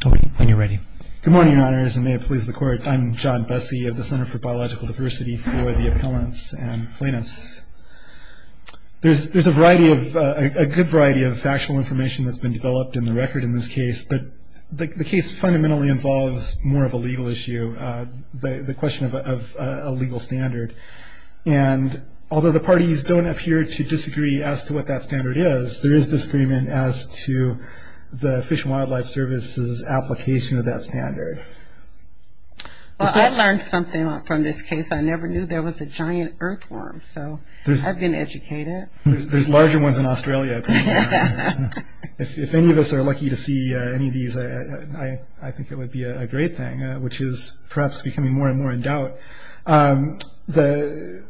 Good morning, Your Honors, and may it please the Court, I'm John Bessie of the Center for Biological Diversity for the Appellants and Plaintiffs. There's a good variety of factual information that's been developed in the record in this case, but the case fundamentally involves more of a legal issue, the question of a legal standard. And although the parties don't appear to disagree as to what that standard is, there is disagreement as to the Fish and Wildlife Service's application of that standard. Well, I learned something from this case. I never knew there was a giant earthworm, so I've been educated. There's larger ones in Australia. If any of us are lucky to see any of these, I think it would be a great thing, which is perhaps becoming more and more in doubt. So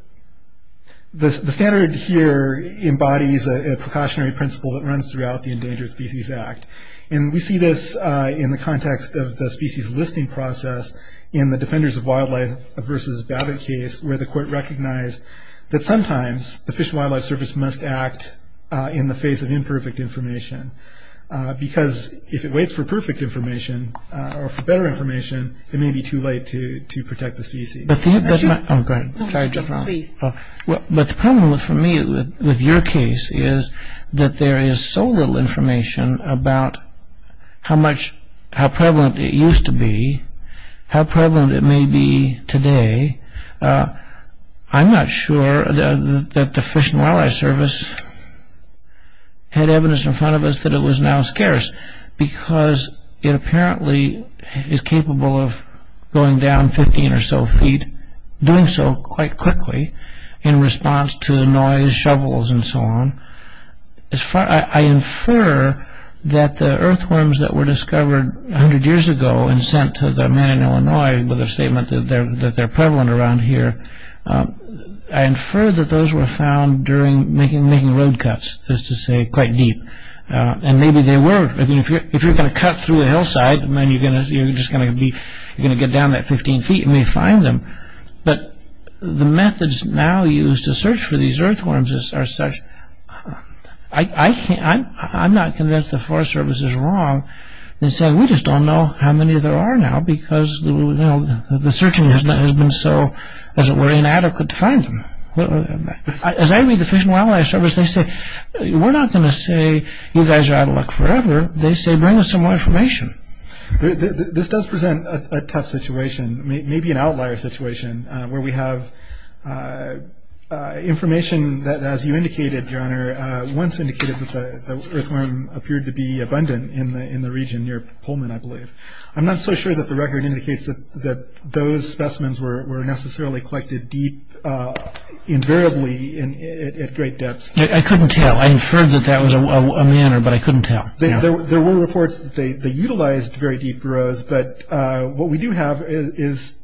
the standard here embodies a precautionary principle that runs throughout the Endangered Species Act. And we see this in the context of the species listing process in the Defenders of Wildlife v. Babbitt case, where the Court recognized that sometimes the Fish and Wildlife Service must act in the face of imperfect information, because if it waits for perfect information or for better information, it may be too late to protect the species. But the problem for me with your case is that there is so little information about how prevalent it used to be, how prevalent it may be today. I'm not sure that the Fish and Wildlife Service had evidence in front of us that it was now scarce, because it apparently is capable of going down 15 or so feet, doing so quite quickly in response to noise, shovels, and so on. I infer that the earthworms that were discovered 100 years ago and sent to the man in Illinois with a statement that they're prevalent around here, I infer that those were found during making road cuts, just to say, quite deep. And maybe they were. If you're going to cut through a hillside, you're going to get down that 15 feet and may find them. But the methods now used to search for these earthworms are such... I'm not convinced the Forest Service is wrong in saying we just don't know how many there are now, because the searching has been so inadequate to find them. As I read the Fish and Wildlife Service, they say, we're not going to say you guys are out of luck forever, they say bring us some more information. This does present a tough situation, maybe an outlier situation, where we have information that, as you indicated, Your Honor, once indicated that the earthworm appeared to be abundant in the region near Pullman, I believe. I'm not so sure that the record indicates that those specimens were necessarily collected deep, invariably at great depths. I couldn't tell. I inferred that that was a manner, but I couldn't tell. There were reports that they utilized very deep burrows, but what we do have is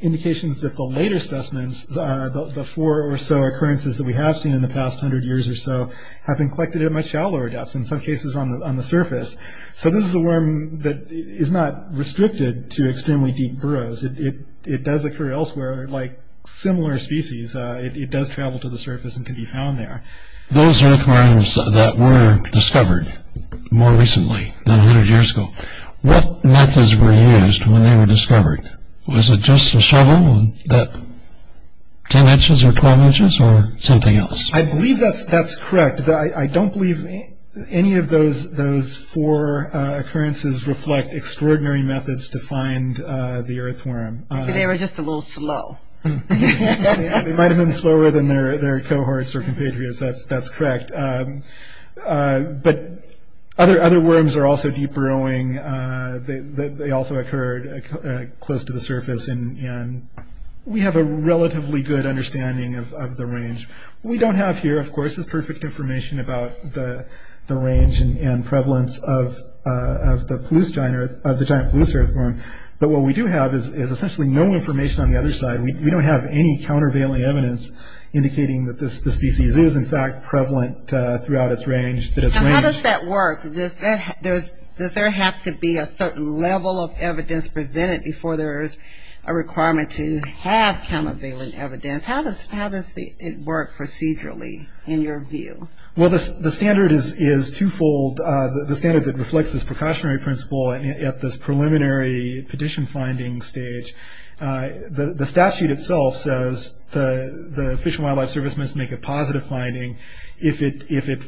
indications that the later specimens, the four or so occurrences that we have seen in the past 100 years or so, have been collected at much shallower depths, in some cases on the surface. So this is a worm that is not restricted to extremely deep burrows. It does occur elsewhere, like similar species. It does travel to the surface and can be found there. Those earthworms that were discovered more recently than 100 years ago, what methods were used when they were discovered? Was it just a shovel, 10 inches or 12 inches, or something else? I believe that's correct. I don't believe any of those four occurrences reflect extraordinary methods to find the earthworm. They were just a little slow. They might have been slower than their cohorts or compatriots. That's correct. But other worms are also deep burrowing. They also occurred close to the surface, and we have a relatively good understanding of the range. What we don't have here, of course, is perfect information about the range and prevalence of the giant Palouse earthworm, but what we do have is essentially no information on the other side. We don't have any countervailing evidence indicating that this species is, in fact, prevalent throughout its range. How does that work? Does there have to be a certain level of evidence presented before there is a requirement to have countervailing evidence? How does it work procedurally, in your view? Well, the standard is twofold. The standard that reflects this precautionary principle at this preliminary petition finding stage, the statute itself says the Fish and Wildlife Service must make a positive finding if it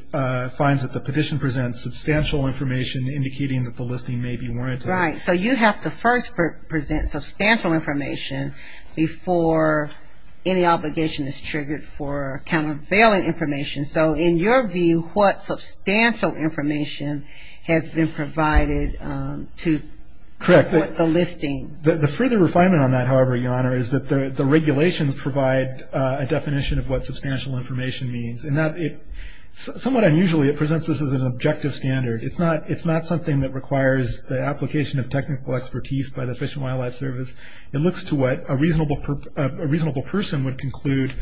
finds that the petition presents substantial information indicating that the listing may be warranted. Right. So you have to first present substantial information before any obligation is triggered for countervailing information. So in your view, what substantial information has been provided to support the listing? The further refinement on that, however, Your Honor, is that the regulations provide a definition of what substantial information means. Somewhat unusually, it presents this as an objective standard. It's not something that requires the application of technical expertise by the Fish and Wildlife Service. It looks to what a reasonable person would conclude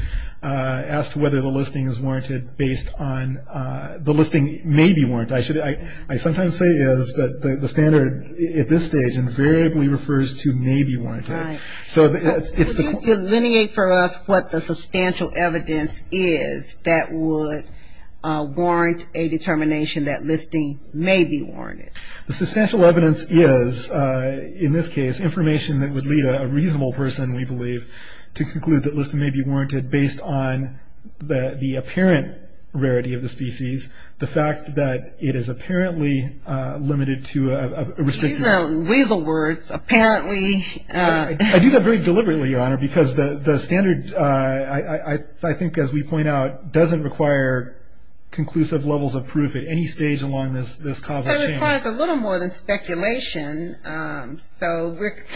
as to whether the listing is warranted based on the listing may be warranted. I sometimes say is, but the standard at this stage invariably refers to may be warranted. Right. So it's the... Can you delineate for us what the substantial evidence is that would warrant a determination that listing may be warranted? The substantial evidence is, in this case, information that would lead a reasonable person, we believe, to conclude that listing may be warranted based on the apparent rarity of the species, the fact that it is apparently limited to a restricted... These are weasel words, apparently. I do that very deliberately, Your Honor, because the standard, I think, as we point out, doesn't require conclusive levels of proof at any stage along this causal chain. So it requires a little more than speculation. So it's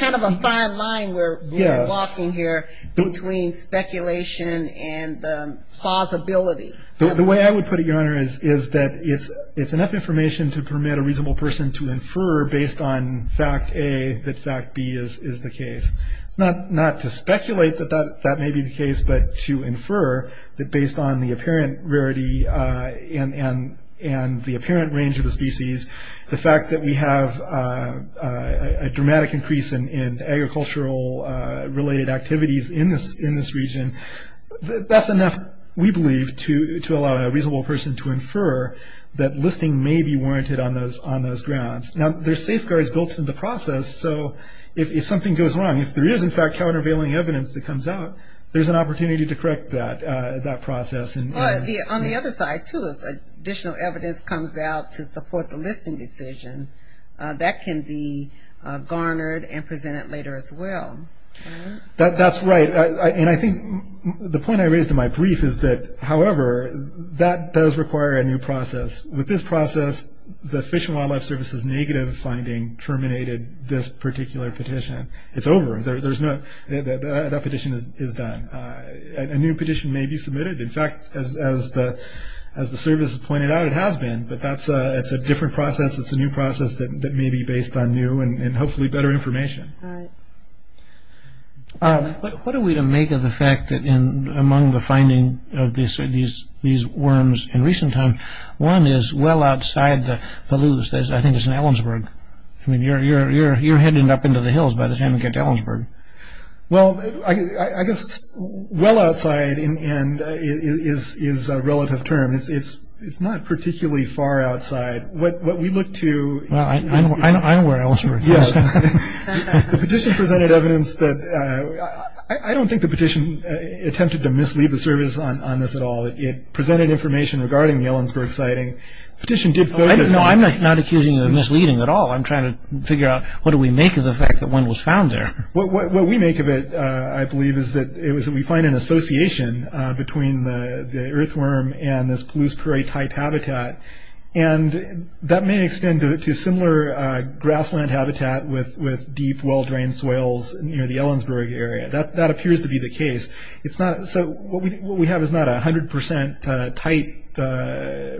kind of a fine line we're walking here between speculation and plausibility. The way I would put it, Your Honor, is that it's enough information to permit a reasonable person to infer based on fact A that fact B is the case. It's not to speculate that that may be the case, but to infer that based on the apparent rarity and the apparent range of the species, the fact that we have a dramatic increase in agricultural-related activities in this region, that's enough, we believe, to allow a reasonable person to infer that listing may be warranted on those grounds. Now, there's safeguards built into the process, so if something goes wrong, if there is, in fact, countervailing evidence that comes out, there's an opportunity to correct that process. On the other side, too, if additional evidence comes out to support the listing decision, that can be garnered and presented later as well. That's right, and I think the point I raised in my brief is that, however, that does require a new process. With this process, the Fish and Wildlife Service's negative finding terminated this particular petition. It's over. That petition is done. A new petition may be submitted. In fact, as the Service has pointed out, it has been, but that's a different process. It's a new process that may be based on new and hopefully better information. All right. What are we to make of the fact that among the finding of these worms in recent time, one is well outside the Palouse, I think it's in Ellensburg. I mean, you're heading up into the hills by the time we get to Ellensburg. Well, I guess well outside is a relative term. It's not particularly far outside. Well, I know where Ellensburg is. Yes. The petition presented evidence that I don't think the petition attempted to mislead the Service on this at all. It presented information regarding the Ellensburg sighting. No, I'm not accusing you of misleading at all. I'm trying to figure out what do we make of the fact that one was found there. What we make of it, I believe, is that we find an association between the earthworm and this Palouse prairie-type habitat. And that may extend to similar grassland habitat with deep, well-drained soils near the Ellensburg area. That appears to be the case. So what we have is not a 100% type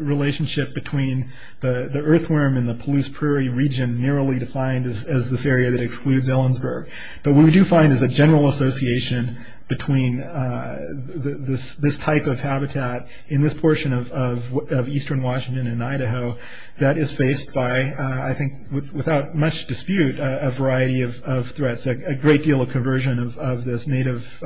relationship between the earthworm and the Palouse prairie region narrowly defined as this area that excludes Ellensburg. But what we do find is a general association between this type of habitat in this portion of eastern Washington and Idaho that is faced by, I think without much dispute, a variety of threats. A great deal of conversion of this native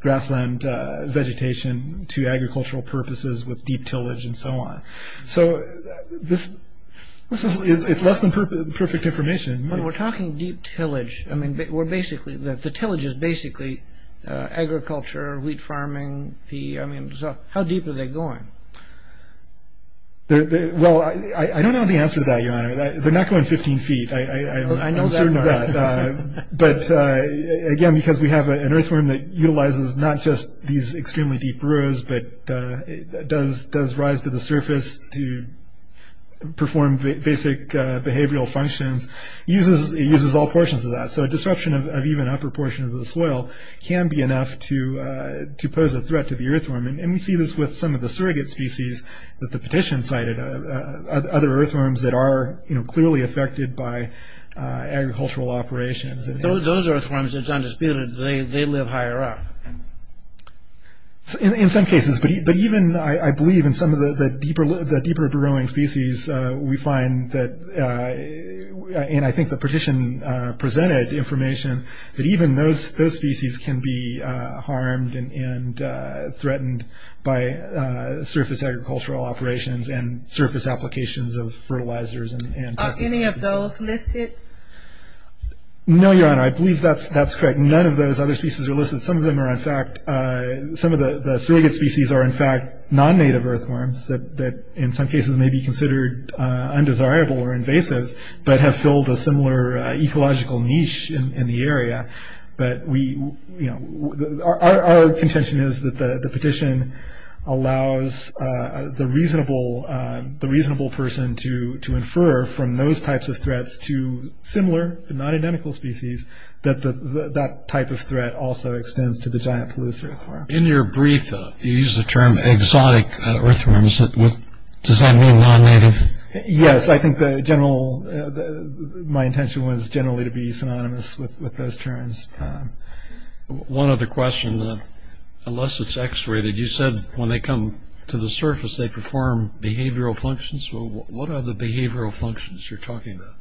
grassland vegetation to agricultural purposes with deep tillage and so on. So it's less than perfect information. When we're talking deep tillage, I mean, the tillage is basically agriculture, wheat farming, I mean, so how deep are they going? Well, I don't know the answer to that, Your Honor. They're not going 15 feet. I'm certain of that. But again, because we have an earthworm that utilizes not just these extremely deep rows, but does rise to the surface to perform basic behavioral functions, it uses all portions of that. So a disruption of even upper portions of the soil can be enough to pose a threat to the earthworm. And we see this with some of the surrogate species that the petition cited, other earthworms that are clearly affected by agricultural operations. Those earthworms, it's undisputed, they live higher up. In some cases, but even, I believe, in some of the deeper growing species, we find that, and I think the petition presented information, that even those species can be harmed and threatened by surface agricultural operations and surface applications of fertilizers and pesticides. Are any of those listed? No, Your Honor. I believe that's correct. None of those other species are listed. Some of them are, in fact, some of the surrogate species are, in fact, non-native earthworms that in some cases may be considered undesirable or invasive, but have filled a similar ecological niche in the area. But we, you know, our contention is that the petition allows the reasonable person to infer from those types of threats to similar, but not identical species, that that type of threat also extends to the giant polluted earthworm. In your brief, you used the term exotic earthworms. Does that mean non-native? Yes, I think the general, my intention was generally to be synonymous with those terms. One other question, unless it's x-rated, you said when they come to the surface they perform behavioral functions. What are the behavioral functions you're talking about?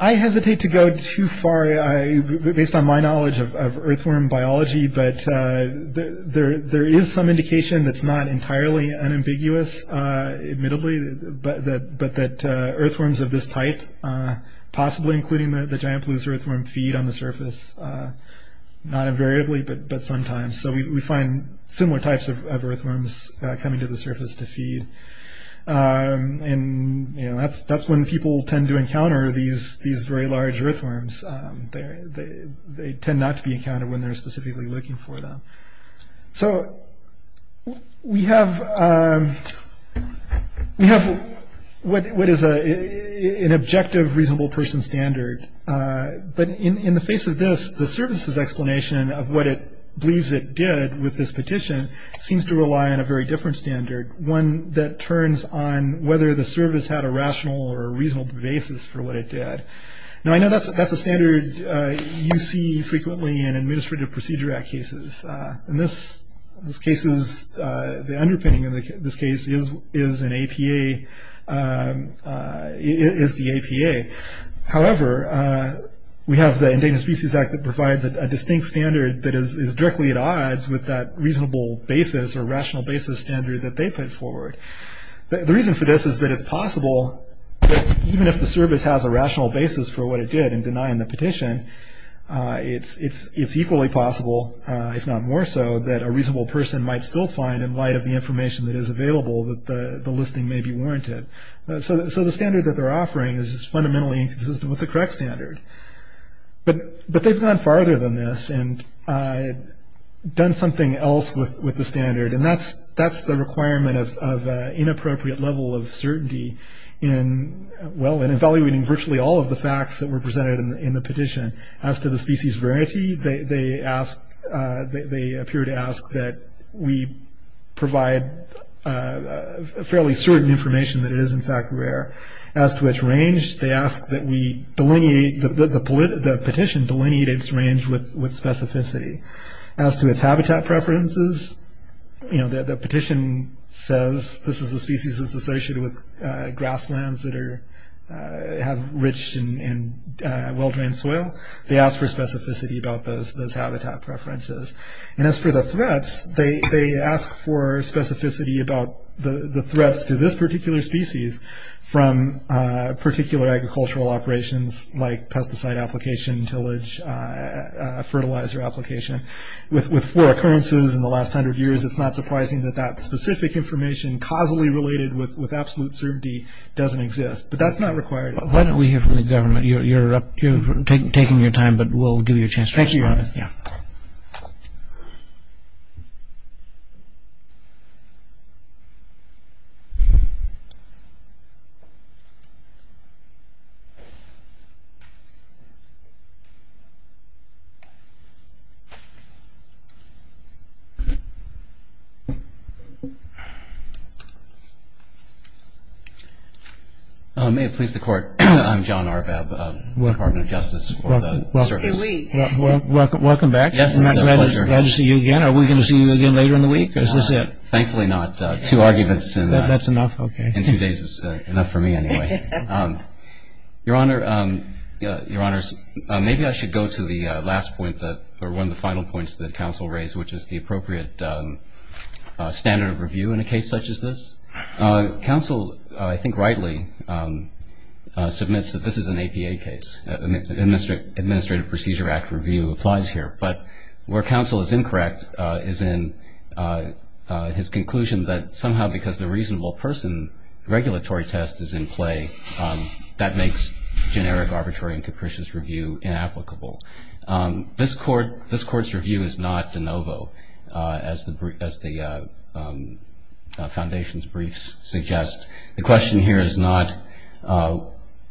I hesitate to go too far based on my knowledge of earthworm biology, but there is some indication that's not entirely unambiguous, admittedly, but that earthworms of this type, possibly including the giant polluted earthworm, feed on the surface, not invariably, but sometimes. So we find similar types of earthworms coming to the surface to feed. And, you know, that's when people tend to encounter these very large earthworms. They tend not to be encountered when they're specifically looking for them. So we have what is an objective reasonable person standard, but in the face of this, the services explanation of what it believes it did with this petition seems to rely on a very different standard, one that turns on whether the service had a rational or a reasonable basis for what it did. Now I know that's a standard you see frequently in Administrative Procedure Act cases. In this case, the underpinning of this case is an APA, is the APA. However, we have the Endangered Species Act that provides a distinct standard that is directly at odds with that reasonable basis or rational basis standard that they put forward. The reason for this is that it's possible that even if the service has a rational basis for what it did in denying the petition, it's equally possible, if not more so, that a reasonable person might still find, in light of the information that is available, that the listing may be warranted. So the standard that they're offering is fundamentally inconsistent with the correct standard. But they've gone farther than this and done something else with the standard, and that's the requirement of inappropriate level of certainty in, well, in evaluating virtually all of the facts that were presented in the petition. As to the species variety, they asked, they appear to ask that we provide fairly certain information that it is, in fact, rare. As to its range, they ask that we delineate, that the petition delineate its range with specificity. As to its habitat preferences, you know, the petition says this is a species that's associated with grasslands that are, have rich and well-drained soil. They ask for specificity about those habitat preferences. And as for the threats, they ask for specificity about the threats to this particular species from particular agricultural operations like pesticide application, tillage, fertilizer application. With four occurrences in the last hundred years, it's not surprising that that specific information causally related with absolute certainty doesn't exist. But that's not required. Why don't we hear from the government? You're taking your time, but we'll give you a chance to respond. Thank you, Your Honor. Yeah. May it please the Court, I'm John Arbab, partner of justice for the service. Welcome back. Yes, it's a pleasure. Glad to see you again. Are we going to see you again later in the week, or is this it? Thankfully not. Two arguments in two days is enough for me anyway. Your Honor, maybe I should go to the last point, or one of the final points that counsel raised, which is the appropriate standard of review in a case such as this. Counsel, I think rightly, submits that this is an APA case. Administrative Procedure Act review applies here. But where counsel is incorrect is in his conclusion that somehow because the reasonable person regulatory test is in play, that makes generic arbitrary and capricious review inapplicable. This Court's review is not de novo, as the foundation's briefs suggest. The question here is not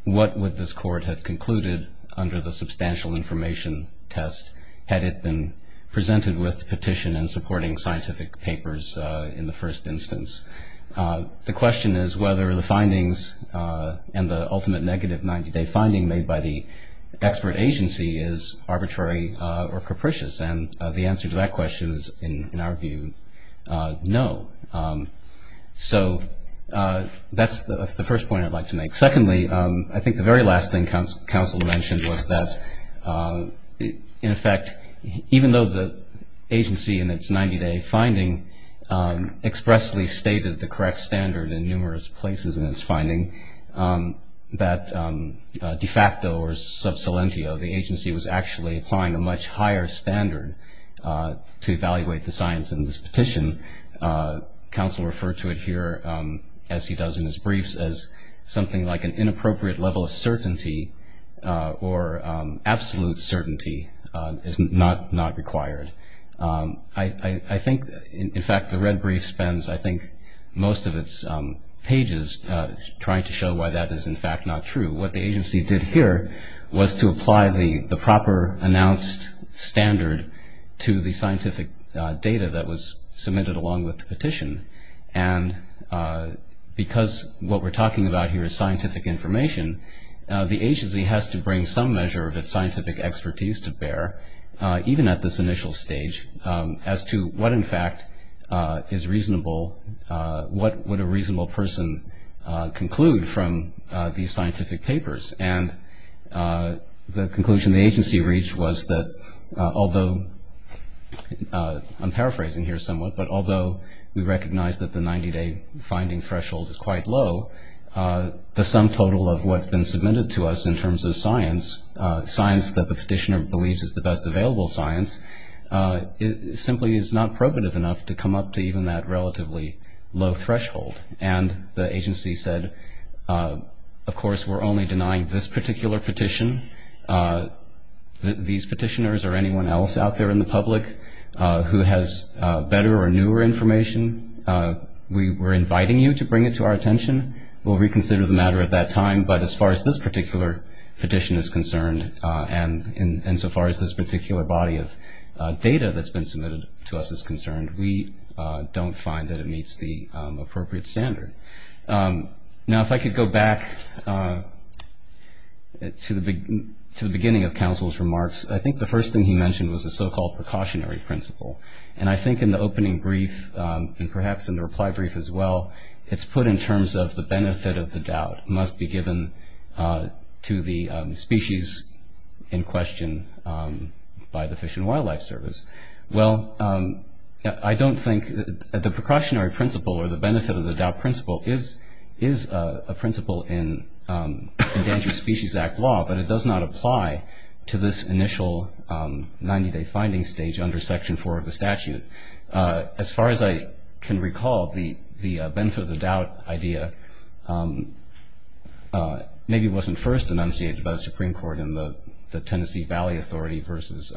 what would this Court have concluded under the substantial information test, had it been presented with petition and supporting scientific papers in the first instance. The question is whether the findings and the ultimate negative 90-day finding made by the expert agency is arbitrary or capricious, and the answer to that question is, in our view, no. So that's the first point I'd like to make. Secondly, I think the very last thing counsel mentioned was that, in effect, even though the agency in its 90-day finding expressly stated the correct standard in numerous places in its finding, that de facto or sub salentio, the agency was actually applying a much higher standard to evaluate the science in this petition, counsel referred to it here, as he does in his briefs, as something like an inappropriate level of certainty or absolute certainty is not required. I think, in fact, the red brief spends, I think, most of its pages trying to show why that is, in fact, not true. What the agency did here was to apply the proper announced standard to the scientific data that was submitted along with the petition, and because what we're talking about here is scientific information, the agency has to bring some measure of its scientific expertise to bear, even at this initial stage, as to what, in fact, is reasonable, what would a reasonable person conclude from these scientific papers. And the conclusion the agency reached was that, although I'm paraphrasing here somewhat, but although we recognize that the 90-day finding threshold is quite low, the sum total of what's been submitted to us in terms of science, that the petitioner believes is the best available science, simply is not probative enough to come up to even that relatively low threshold. And the agency said, of course, we're only denying this particular petition. These petitioners or anyone else out there in the public who has better or newer information, we're inviting you to bring it to our attention. We'll reconsider the matter at that time, but as far as this particular petition is concerned and so far as this particular body of data that's been submitted to us is concerned, we don't find that it meets the appropriate standard. Now, if I could go back to the beginning of counsel's remarks, I think the first thing he mentioned was the so-called precautionary principle. And I think in the opening brief and perhaps in the reply brief as well, it's put in terms of the benefit of the doubt must be given to the species in question by the Fish and Wildlife Service. Well, I don't think the precautionary principle or the benefit of the doubt principle is a principle in Endangered Species Act law, but it does not apply to this initial 90-day finding stage under Section 4 of the statute. As far as I can recall, the benefit of the doubt idea maybe wasn't first enunciated by the Supreme Court in the Tennessee Valley Authority versus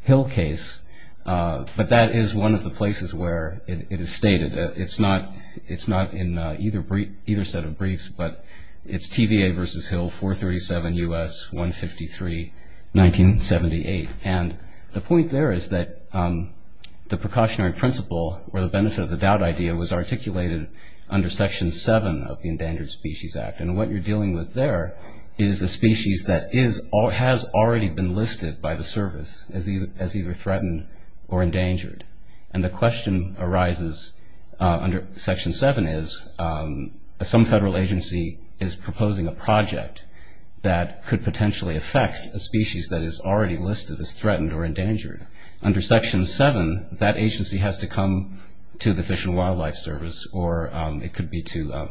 Hill case, but that is one of the places where it is stated. It's not in either set of briefs, but it's TVA versus Hill, 437 U.S., 153, 1978. And the point there is that the precautionary principle or the benefit of the doubt idea was articulated under Section 7 of the Endangered Species Act. And what you're dealing with there is a species that has already been listed by the service as either threatened or endangered. And the question arises under Section 7 is some federal agency is proposing a project that could potentially affect a species that is already listed as threatened or endangered. Under Section 7, that agency has to come to the Fish and Wildlife Service, or it could be to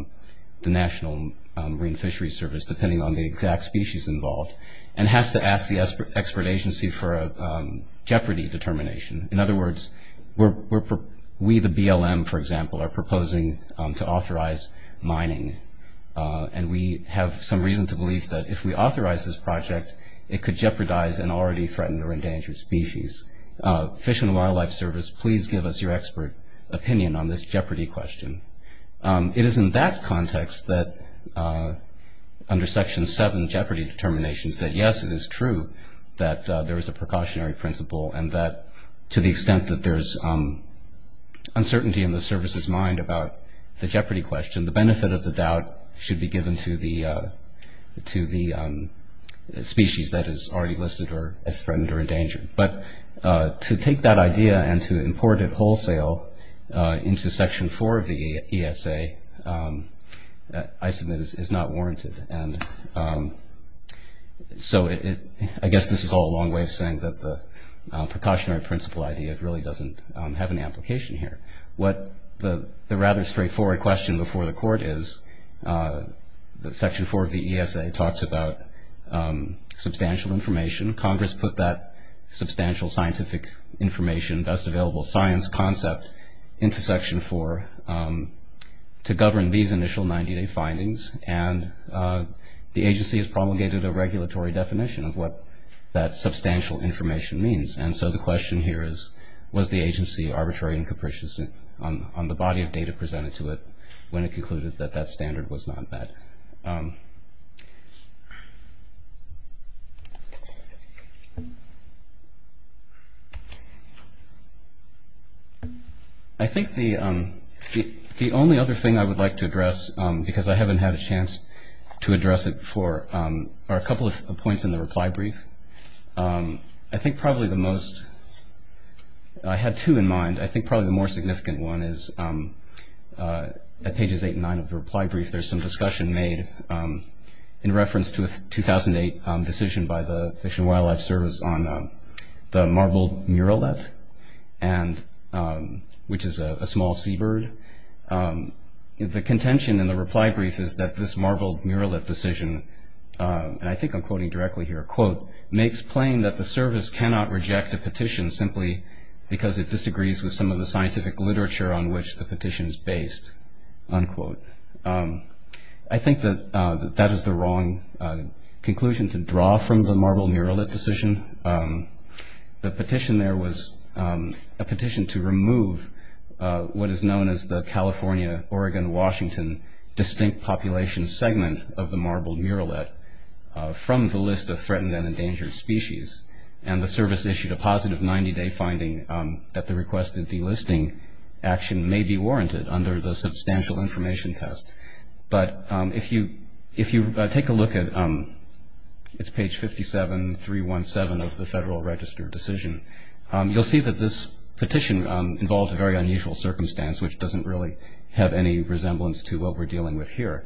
the National Marine Fishery Service, depending on the exact species involved, and has to ask the expert agency for a jeopardy determination. In other words, we, the BLM, for example, are proposing to authorize mining, and we have some reason to believe that if we authorize this project, it could jeopardize an already threatened or endangered species. Fish and Wildlife Service, please give us your expert opinion on this jeopardy question. It is in that context that under Section 7 jeopardy determinations that, yes, it is true that there is a precautionary principle and that to the extent that there is uncertainty in the service's mind about the jeopardy question, the benefit of the doubt should be given to the species that is already listed as threatened or endangered. But to take that idea and to import it wholesale into Section 4 of the ESA, I submit, is not warranted. And so I guess this is all a long way of saying that the precautionary principle idea really doesn't have an application here. What the rather straightforward question before the Court is that Section 4 of the ESA talks about substantial information. Congress put that substantial scientific information, best available science concept, into Section 4 to govern these initial 90-day findings, and the agency has promulgated a regulatory definition of what that substantial information means. And so the question here is, was the agency arbitrary and capricious on the body of data presented to it when it concluded that that standard was not met? I think the only other thing I would like to address, because I haven't had a chance to address it before, are a couple of points in the reply brief. I think probably the most – I had two in mind. I think probably the more significant one is at pages 8 and 9 of the reply brief, there's some discussion made in reference to a 2008 decision by the Fish and Wildlife Service on the marble muralette. Which is a small seabird. The contention in the reply brief is that this marble muralette decision, and I think I'm quoting directly here, quote, makes plain that the service cannot reject a petition simply because it disagrees with some of the scientific literature on which the petition is based, unquote. I think that that is the wrong conclusion to draw from the marble muralette decision. The petition there was a petition to remove what is known as the California-Oregon-Washington distinct population segment of the marble muralette from the list of threatened and endangered species. And the service issued a positive 90-day finding that the requested delisting action may be warranted under the substantial information test. But if you take a look at – it's page 57, 317 of the Federal Register decision, you'll see that this petition involves a very unusual circumstance, which doesn't really have any resemblance to what we're dealing with here.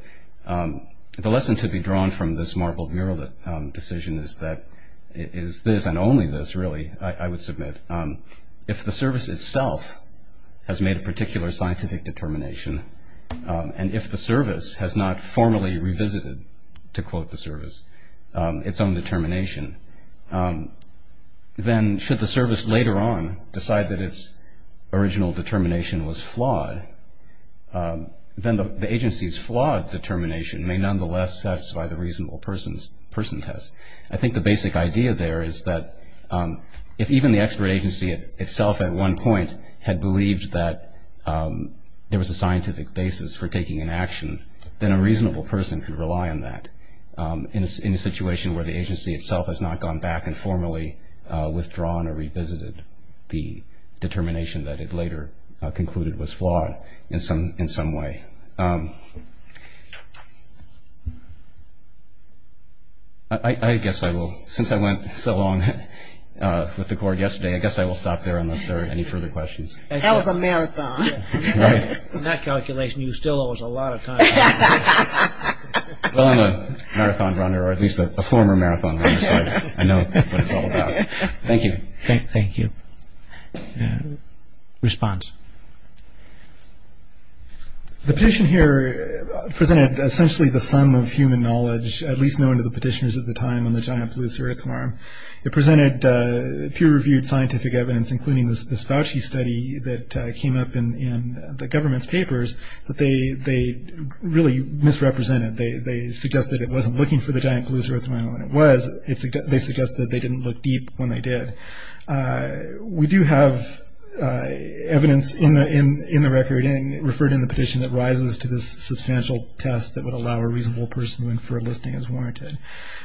The lesson to be drawn from this marble muralette decision is this, and only this, really, I would submit. If the service itself has made a particular scientific determination, and if the service has not formally revisited, to quote the service, its own determination, then should the service later on decide that its original determination was flawed, then the agency's flawed determination may nonetheless satisfy the reasonable person test. I think the basic idea there is that if even the expert agency itself at one point had believed that there was a scientific basis for taking an action, then a reasonable person could rely on that. In a situation where the agency itself has not gone back and formally withdrawn or revisited the determination that it later concluded was flawed in some way. I guess I will, since I went so long with the Court yesterday, I guess I will stop there unless there are any further questions. That was a marathon. In that calculation, you still owe us a lot of time. Well, I'm a marathon runner, or at least a former marathon runner, so I know what it's all about. Thank you. Thank you. Response. The petition here presented essentially the sum of human knowledge, at least known to the petitioners at the time on the giant blue-surf farm. It presented peer-reviewed scientific evidence, including this Fauci study that came up in the government's papers that they really misrepresented. They suggested it wasn't looking for the giant blue-surf farm, and when it was, they suggested they didn't look deep when they did. We do have evidence in the record referred in the petition that rises to this substantial test that would allow a reasonable person to infer a listing as warranted.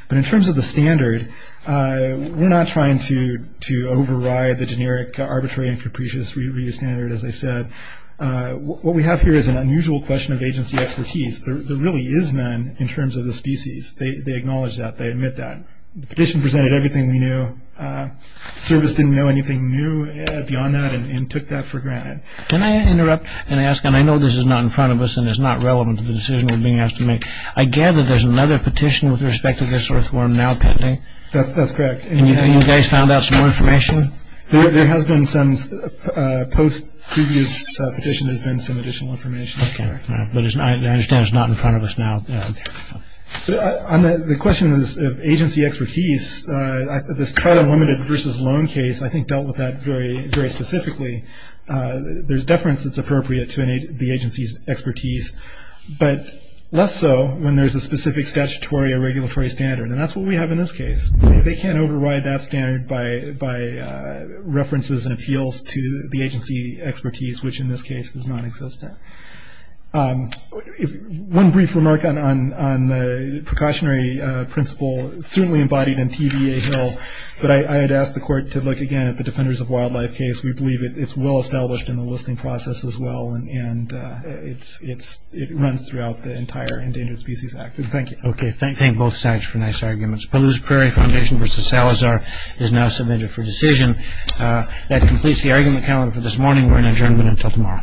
But in terms of the standard, we're not trying to override the generic arbitrary and capricious review standard, as I said. What we have here is an unusual question of agency expertise. There really is none in terms of the species. They acknowledge that. They admit that. The petition presented everything we knew. The service didn't know anything new beyond that and took that for granted. Can I interrupt and ask, and I know this is not in front of us and it's not relevant to the decision we're being asked to make. I gather there's another petition with respect to this earthworm now pending? That's correct. And you guys found out some more information? There has been some post-previous petition. There's been some additional information. Okay. But I understand it's not in front of us now. The question of agency expertise, this title limited versus loan case, I think dealt with that very specifically. There's deference that's appropriate to the agency's expertise. But less so when there's a specific statutory or regulatory standard, and that's what we have in this case. They can't override that standard by references and appeals to the agency expertise, which in this case does not exist. One brief remark on the precautionary principle, certainly embodied in TVA Hill, but I had asked the court to look again at the Defenders of Wildlife case. We believe it's well established in the listing process as well and it runs throughout the entire Endangered Species Act. Thank you. Okay. Thank both sides for nice arguments. Palouse Prairie Foundation versus Salazar is now submitted for decision. That completes the argument calendar for this morning. We're in adjournment until tomorrow.